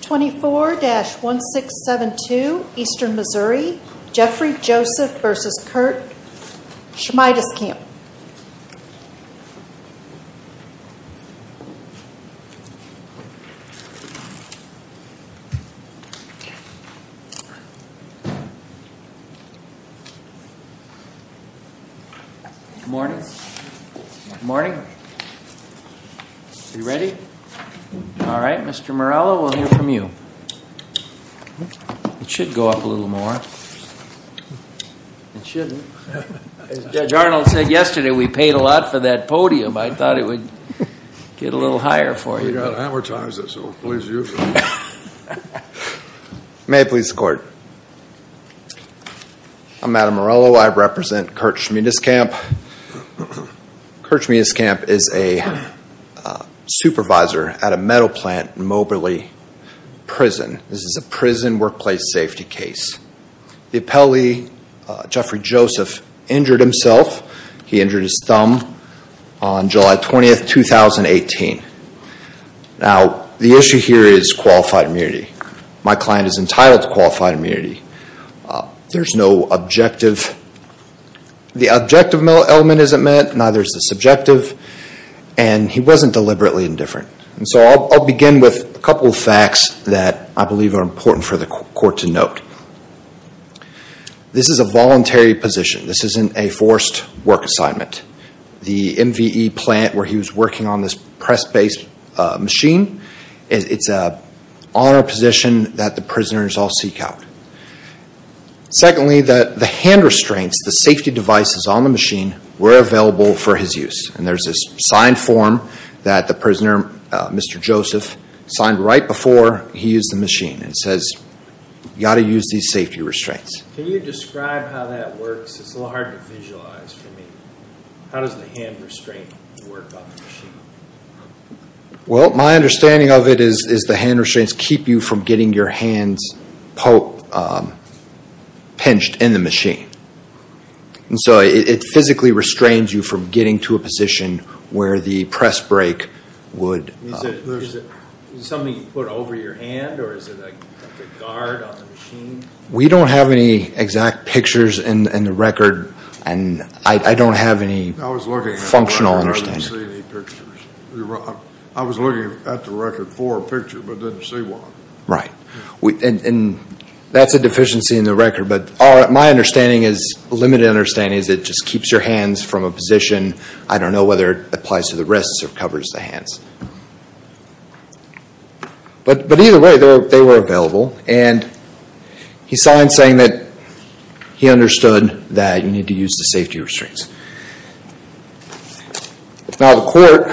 24-1672 Eastern Missouri Jeffrey Joseph v. Kurt Schmiedeskamp Good morning. Are you ready? All right, Mr. Morello, we'll hear from you. It should go up a little more. It shouldn't. As Judge Arnold said yesterday, we paid a lot for that podium. I thought it would get a little higher for you. We got to amortize it, so please use it. May it please the court. I'm Adam Morello. I represent Kurt Schmiedeskamp. Kurt Schmiedeskamp is a supervisor at a metal plant in Moberly Prison. This is a prison workplace safety case. The appellee, Jeffrey Joseph, injured himself. He injured his thumb on July 20, 2018. Now, the issue here is qualified immunity. My client is entitled to qualified immunity. There's no objective. The objective element isn't met, neither is the subjective, and he wasn't deliberately indifferent. I'll begin with a couple of facts that I believe are important for the court to note. This is a voluntary position. This isn't a forced work assignment. The MVE plant where he was working on this press-based machine, it's an honor position that the prisoners all seek out. Secondly, the hand restraints, the safety devices on the machine were available for his use. There's this signed form that the prisoner, Mr. Joseph, signed right before he used the machine. It says, you've got to use these safety restraints. Can you describe how that works? It's a little hard to visualize for me. How does the hand restraint work on the machine? Well, my understanding of it is the hand restraints keep you from getting your hands pinched in the machine. It physically restrains you from getting to a position where the press brake would... Is it something you put over your hand, or is it like a guard on the machine? We don't have any exact pictures in the record, and I don't have any functional understanding. I didn't see any pictures. I was looking at the record for a picture, but didn't see one. Right. That's a deficiency in the record, but my limited understanding is it just keeps your hands from a position. I don't know whether it applies to the wrists or covers the hands. But either way, they were available. And he signed saying that he understood that you need to use the safety restraints. Now, the court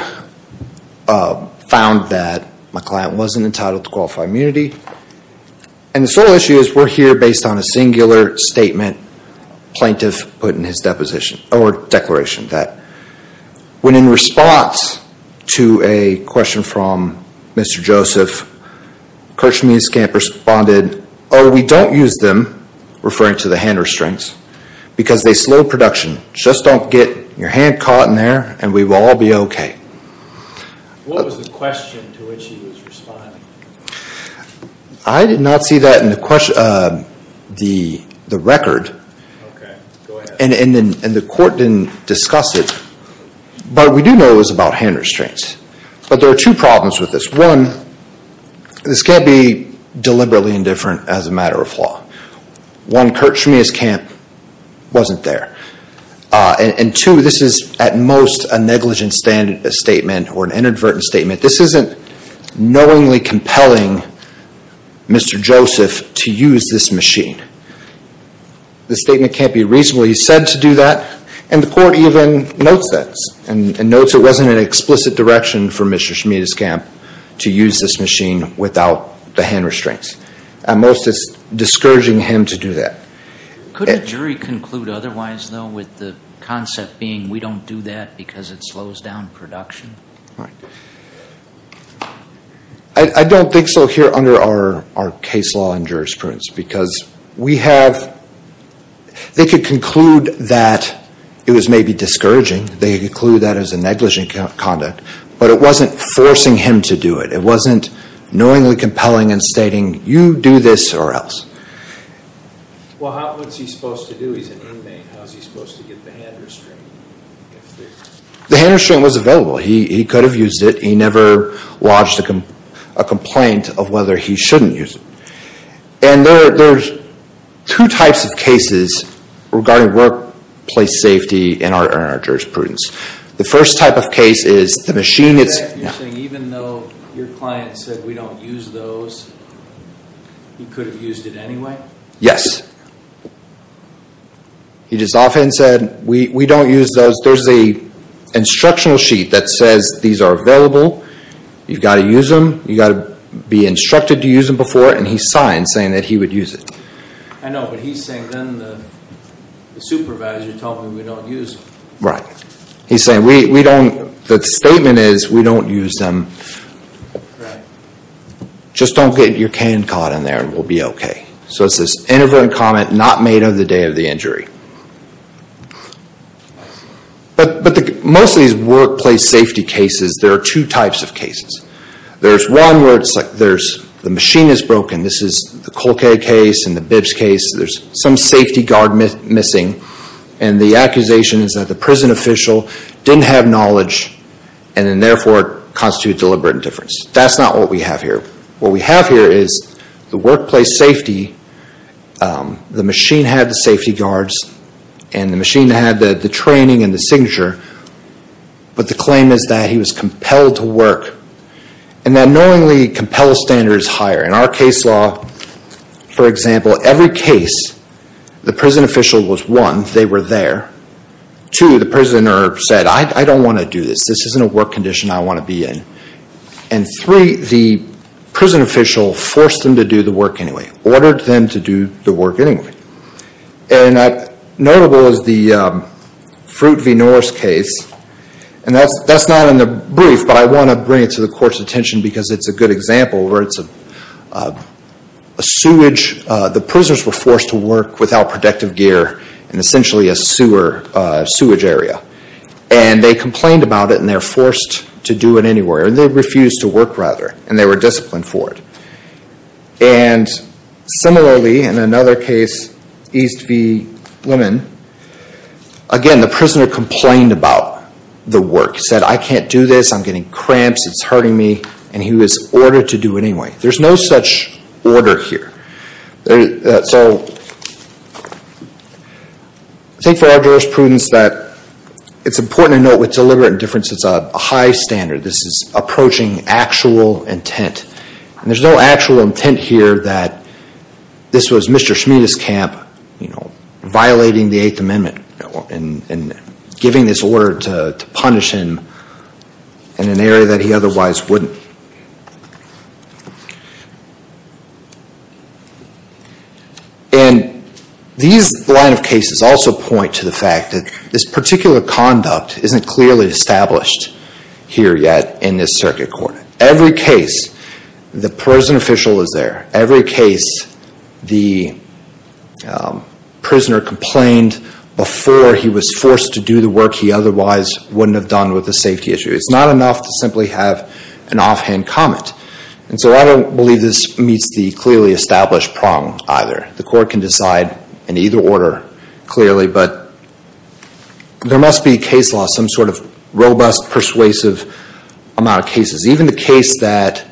found that my client wasn't entitled to qualified immunity. And the sole issue is we're here based on a singular statement plaintiff put in his declaration. When in response to a question from Mr. Joseph, Kirshman and Scamp responded, oh, we don't use them, referring to the hand restraints, because they slow production. Just don't get your hand caught in there, and we will all be okay. What was the question to which he was responding? I did not see that in the record. Okay. Go ahead. And the court didn't discuss it, but we do know it was about hand restraints. But there are two problems with this. One, this can't be deliberately indifferent as a matter of law. One, Kirshman and Scamp wasn't there. And two, this is at most a negligent statement or an inadvertent statement. This isn't knowingly compelling Mr. Joseph to use this machine. This statement can't be reasonably said to do that, and the court even notes that and notes it wasn't an explicit direction for Mr. Scamp to use this machine without the hand restraints. At most it's discouraging him to do that. Could a jury conclude otherwise, though, with the concept being we don't do that because it slows down production? Right. I don't think so here under our case law and jurisprudence because we have – they could conclude that it was maybe discouraging. They could conclude that it was a negligent conduct, but it wasn't forcing him to do it. It wasn't knowingly compelling and stating you do this or else. Well, what's he supposed to do? He's an inmate. How's he supposed to get the hand restraint? The hand restraint was available. He could have used it. He never lodged a complaint of whether he shouldn't use it. And there's two types of cases regarding workplace safety in our jurisprudence. The first type of case is the machine is – You're saying even though your client said we don't use those, he could have used it anyway? Yes. He just often said we don't use those. There's an instructional sheet that says these are available. You've got to use them. You've got to be instructed to use them before, and he signed saying that he would use it. I know, but he's saying then the supervisor told me we don't use them. Right. He's saying we don't – the statement is we don't use them. Right. Just don't get your hand caught in there and we'll be okay. So it's this inadvertent comment not made on the day of the injury. But most of these workplace safety cases, there are two types of cases. There's one where the machine is broken. This is the Colquet case and the Bibbs case. There's some safety guard missing, and the accusation is that the prison official didn't have knowledge and then therefore constitutes deliberate indifference. That's not what we have here. What we have here is the workplace safety, the machine had the safety guards and the machine had the training and the signature, but the claim is that he was compelled to work. And that knowingly compels standards higher. In our case law, for example, every case, the prison official was one, they were there. Two, the prisoner said, I don't want to do this. This isn't a work condition I want to be in. And three, the prison official forced them to do the work anyway, ordered them to do the work anyway. And notable is the Fruit v. Norris case, and that's not in the brief, but I want to bring it to the court's attention because it's a good example where it's a sewage, the prisoners were forced to work without protective gear in essentially a sewer, a sewage area. And they complained about it and they were forced to do it anyway, or they refused to work rather, and they were disciplined for it. And similarly, in another case, East v. Lemon, again, the prisoner complained about the work. He said, I can't do this, I'm getting cramps, it's hurting me, and he was ordered to do it anyway. There's no such order here. So I think for our jurisprudence that it's important to note with deliberate indifference it's a high standard. This is approaching actual intent. And there's no actual intent here that this was Mr. Schmiedes' camp, violating the Eighth Amendment and giving this order to punish him in an area that he otherwise wouldn't. And these line of cases also point to the fact that this particular conduct isn't clearly established here yet in this circuit court. Every case, the prison official is there. Every case, the prisoner complained before he was forced to do the work he otherwise wouldn't have done with a safety issue. It's not enough to simply have an offhand comment. And so I don't believe this meets the clearly established prong either. The court can decide in either order clearly, but there must be a case law, some sort of robust, persuasive amount of cases. Even the case that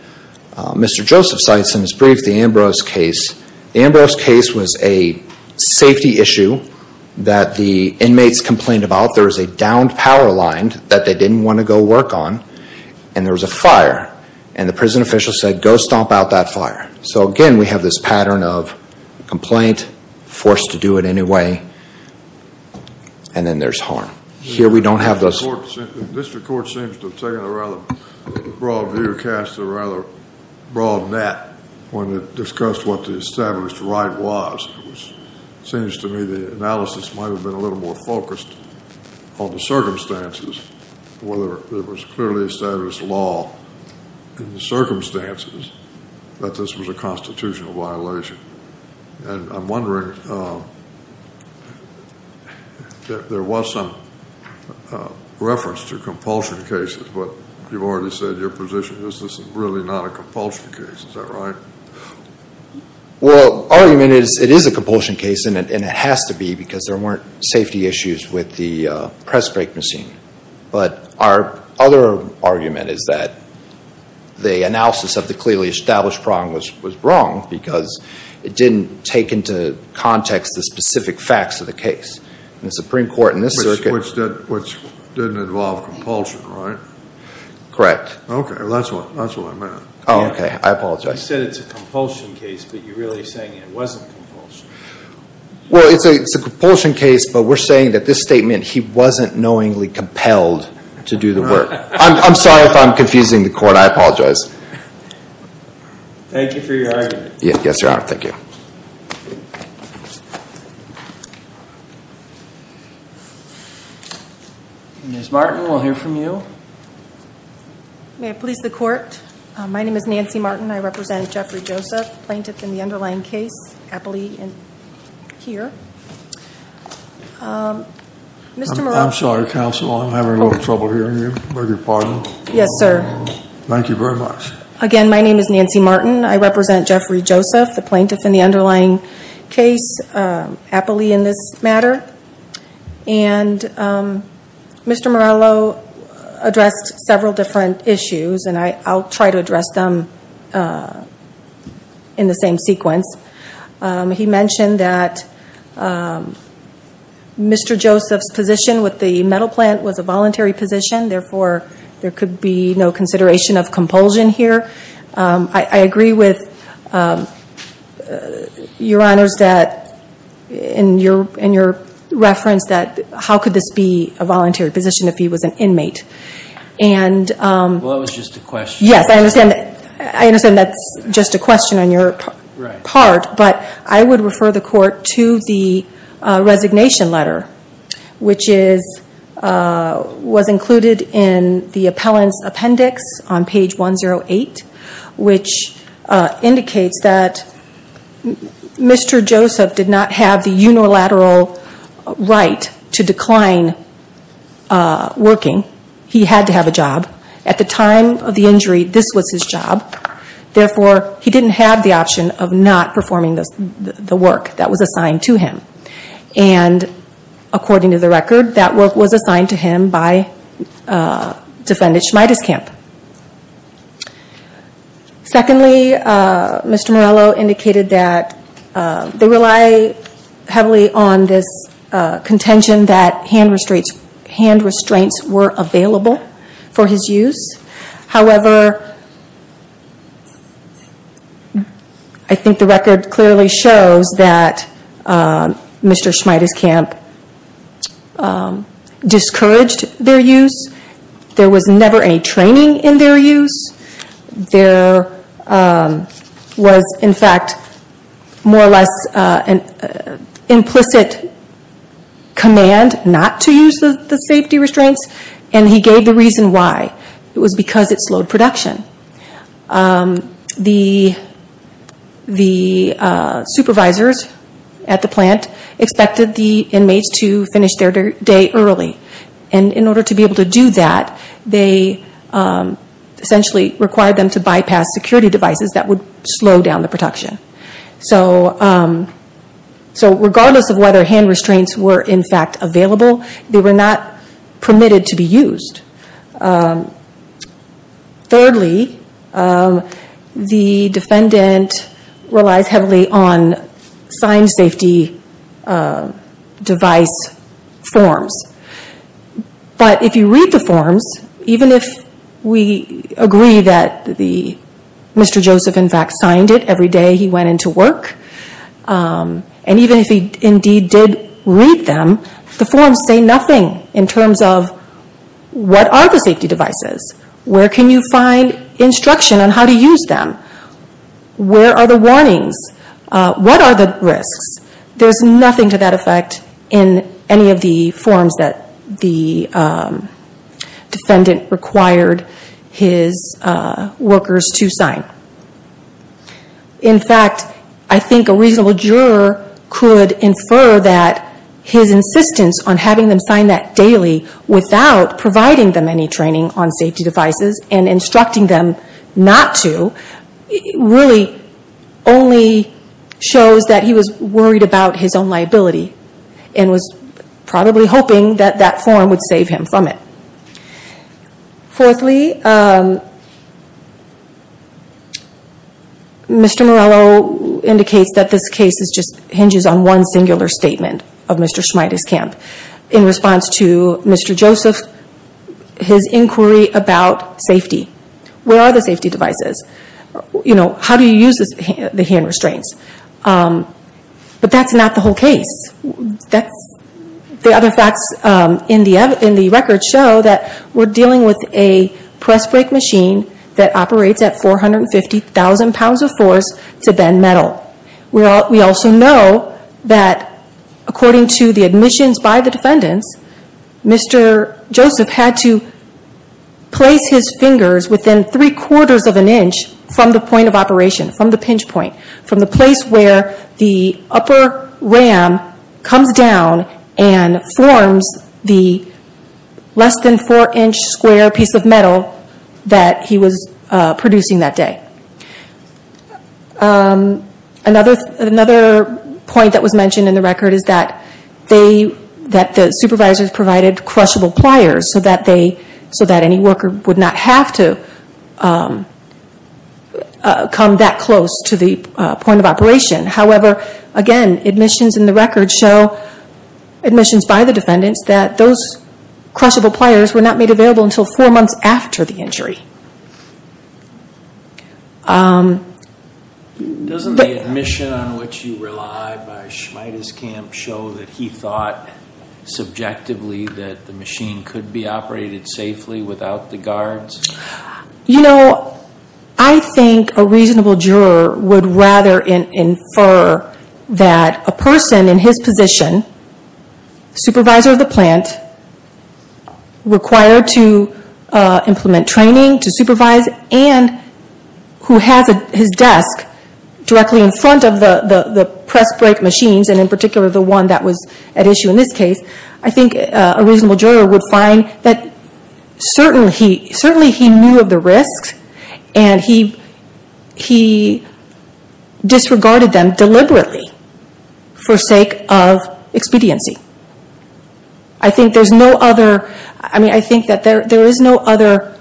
Mr. Joseph cites in his brief, the Ambrose case. The Ambrose case was a safety issue that the inmates complained about. There was a downed power line that they didn't want to go work on, and there was a fire. And the prison official said, go stomp out that fire. So again, we have this pattern of complaint, forced to do it anyway, and then there's harm. Here we don't have those. The district court seems to have taken a rather broad view, cast a rather broad net when it discussed what the established right was. It seems to me the analysis might have been a little more focused on the circumstances, whether there was clearly established law in the circumstances that this was a constitutional violation. And I'm wondering, there was some reference to compulsion cases, but you've already said your position is this is really not a compulsion case. Is that right? Well, argument is it is a compulsion case, and it has to be because there weren't safety issues with the press brake machine. But our other argument is that the analysis of the clearly established problem was wrong because it didn't take into context the specific facts of the case. In the Supreme Court in this circuit. Which didn't involve compulsion, right? Correct. Okay, that's what I meant. Okay, I apologize. You said it's a compulsion case, but you're really saying it wasn't compulsion. Well, it's a compulsion case, but we're saying that this statement, he wasn't knowingly compelled to do the work. I'm sorry if I'm confusing the court. I apologize. Thank you for your argument. Yes, Your Honor. Thank you. Ms. Martin, we'll hear from you. May I please the court? My name is Nancy Martin. I represent Jeffrey Joseph, plaintiff in the underlying case, appellee here. Mr. Morello. I'm sorry, counsel. I'm having a little trouble hearing you. I beg your pardon. Yes, sir. Thank you very much. Again, my name is Nancy Martin. I represent Jeffrey Joseph, the plaintiff in the underlying case, appellee in this matter. And Mr. Morello addressed several different issues, and I'll try to address them in the same sequence. He mentioned that Mr. Joseph's position with the metal plant was a voluntary position, therefore there could be no consideration of compulsion here. I agree with Your Honors in your reference that how could this be a voluntary position if he was an inmate? Well, that was just a question. Yes, I understand that's just a question on your part. But I would refer the court to the resignation letter, which was included in the appellant's appendix on page 108, which indicates that Mr. Joseph did not have the unilateral right to decline working. He had to have a job. At the time of the injury, this was his job. Therefore, he didn't have the option of not performing the work that was assigned to him. And according to the record, that work was assigned to him by defendant Schmiedeskamp. Secondly, Mr. Morello indicated that they rely heavily on this contention that hand restraints were available for his use. However, I think the record clearly shows that Mr. Schmiedeskamp discouraged their use. There was never any training in their use. There was, in fact, more or less an implicit command not to use the safety restraints, and he gave the reason why. It was because it slowed production. The supervisors at the plant expected the inmates to finish their day early. And in order to be able to do that, they essentially required them to bypass security devices that would slow down the production. So regardless of whether hand restraints were, in fact, available, they were not permitted to be used. Thirdly, the defendant relies heavily on signed safety device forms. But if you read the forms, even if we agree that Mr. Joseph, in fact, signed it every day he went into work, and even if he indeed did read them, the forms say nothing in terms of what are the safety devices, where can you find instruction on how to use them, where are the warnings, what are the risks. There's nothing to that effect in any of the forms that the defendant required his workers to sign. In fact, I think a reasonable juror could infer that his insistence on having them sign that daily without providing them any training on safety devices and instructing them not to, really only shows that he was worried about his own liability and was probably hoping that that form would save him from it. Fourthly, Mr. Morello indicates that this case just hinges on one singular statement of Mr. Schmiedes' camp. In response to Mr. Joseph, his inquiry about safety. Where are the safety devices? How do you use the hand restraints? But that's not the whole case. The other facts in the record show that we're dealing with a press brake machine that operates at 450,000 pounds of force to bend metal. We also know that according to the admissions by the defendants, Mr. Joseph had to place his fingers within three-quarters of an inch from the point of operation, from the pinch point, from the place where the upper ram comes down and forms the less than four-inch square piece of metal that he was producing that day. Another point that was mentioned in the record is that the supervisors provided crushable pliers so that any worker would not have to come that close to the point of operation. However, again, admissions in the record show, admissions by the defendants, that those crushable pliers were not made available until four months after the injury. Doesn't the admission on which you rely by Schmiedes' camp show that he thought subjectively that the machine could be operated safely without the guards? You know, I think a reasonable juror would rather infer that a person in his position, supervisor of the plant, required to implement training to supervise, and who has his desk directly in front of the press brake machines, and in particular the one that was at issue in this case, I think a reasonable juror would find that certainly he knew of the risks and he disregarded them deliberately for sake of expediency. I think that there is no other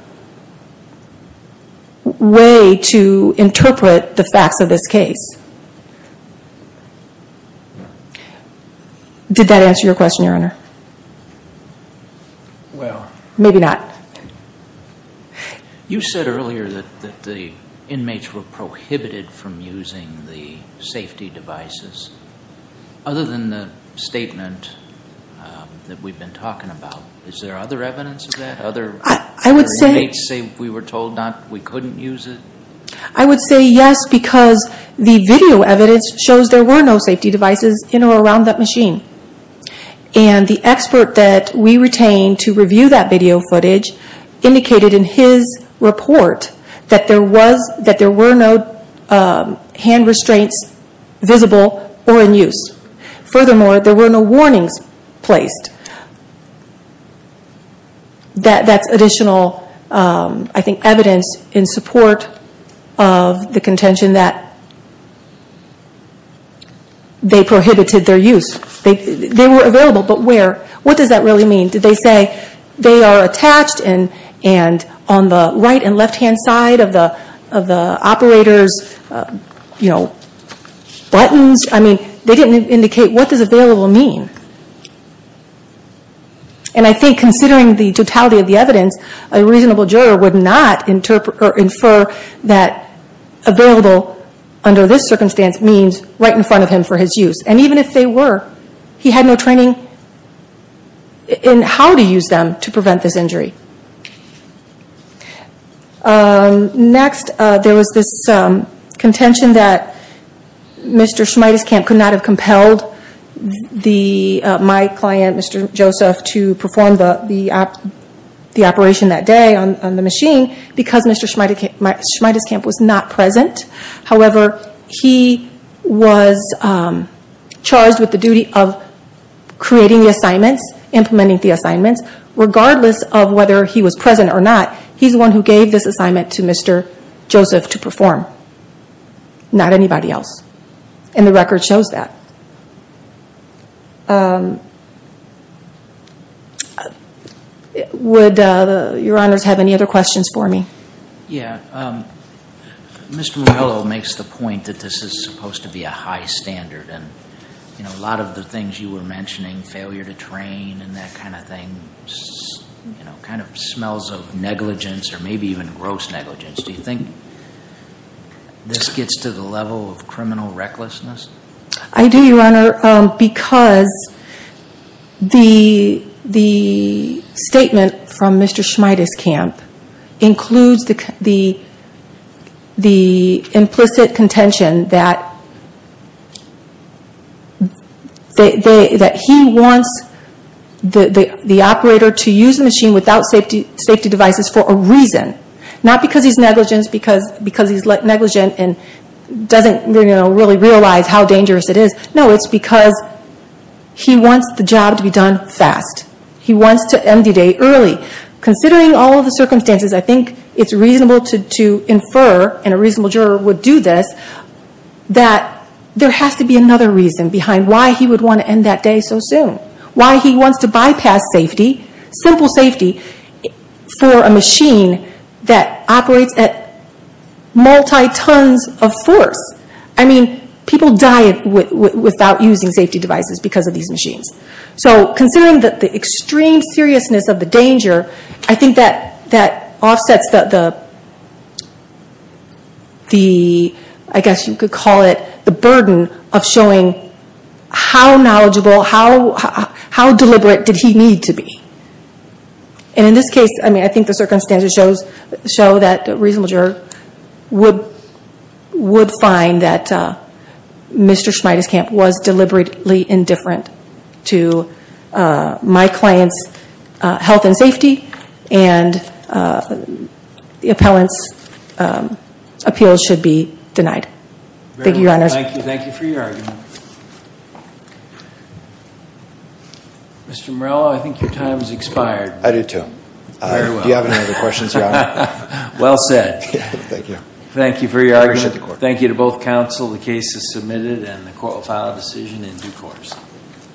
way to interpret the facts of this case. Did that answer your question, Your Honor? Maybe not. You said earlier that the inmates were prohibited from using the safety devices. Other than the statement that we've been talking about, is there other evidence of that? Other inmates say we were told we couldn't use it? I would say yes because the video evidence shows there were no safety devices in or around that machine. And the expert that we retained to review that video footage indicated in his report that there were no hand restraints visible or in use. Furthermore, there were no warnings placed. That's additional evidence in support of the contention that they prohibited their use. They were available, but what does that really mean? Did they say they are attached and on the right and left-hand side of the operator's buttons? I mean, they didn't indicate what does available mean. And I think considering the totality of the evidence, a reasonable juror would not infer that available under this circumstance means right in front of him for his use. And even if they were, he had no training in how to use them to prevent this injury. Next, there was this contention that Mr. Schmiedeskamp could not have compelled my client, Mr. Joseph, to perform the operation that day on the machine because Mr. Schmiedeskamp was not present. However, he was charged with the duty of creating the assignments, implementing the assignments, regardless of whether he was present or not. He's the one who gave this assignment to Mr. Joseph to perform, not anybody else. And the record shows that. Would your honors have any other questions for me? Yeah. Mr. Morello makes the point that this is supposed to be a high standard. And a lot of the things you were mentioning, failure to train and that kind of thing, kind of smells of negligence or maybe even gross negligence. Do you think this gets to the level of criminal recklessness? I do, your honor, because the statement from Mr. Schmiedeskamp includes the implicit contention that he wants the operator to use the machine without safety devices for a reason. Not because he's negligent and doesn't really realize how dangerous it is. No, it's because he wants the job to be done fast. He wants to end the day early. Considering all the circumstances, I think it's reasonable to infer, and a reasonable juror would do this, that there has to be another reason behind why he would want to end that day so soon. Why he wants to bypass simple safety for a machine that operates at multi-tons of force. I mean, people die without using safety devices because of these machines. So considering the extreme seriousness of the danger, I think that offsets the, I guess you could call it, the burden of showing how knowledgeable, how deliberate did he need to be. And in this case, I think the circumstances show that a reasonable juror would find that Mr. Schmiedeskamp was deliberately indifferent to my client's health and safety, and the appellant's appeal should be denied. Thank you, Your Honor. Thank you. Thank you for your argument. Mr. Morello, I think your time has expired. I do too. Very well. Do you have any other questions, Your Honor? Well said. Thank you. Thank you for your argument. I appreciate the court. Thank you to both counsel. The case is submitted, and the court will file a decision in due course.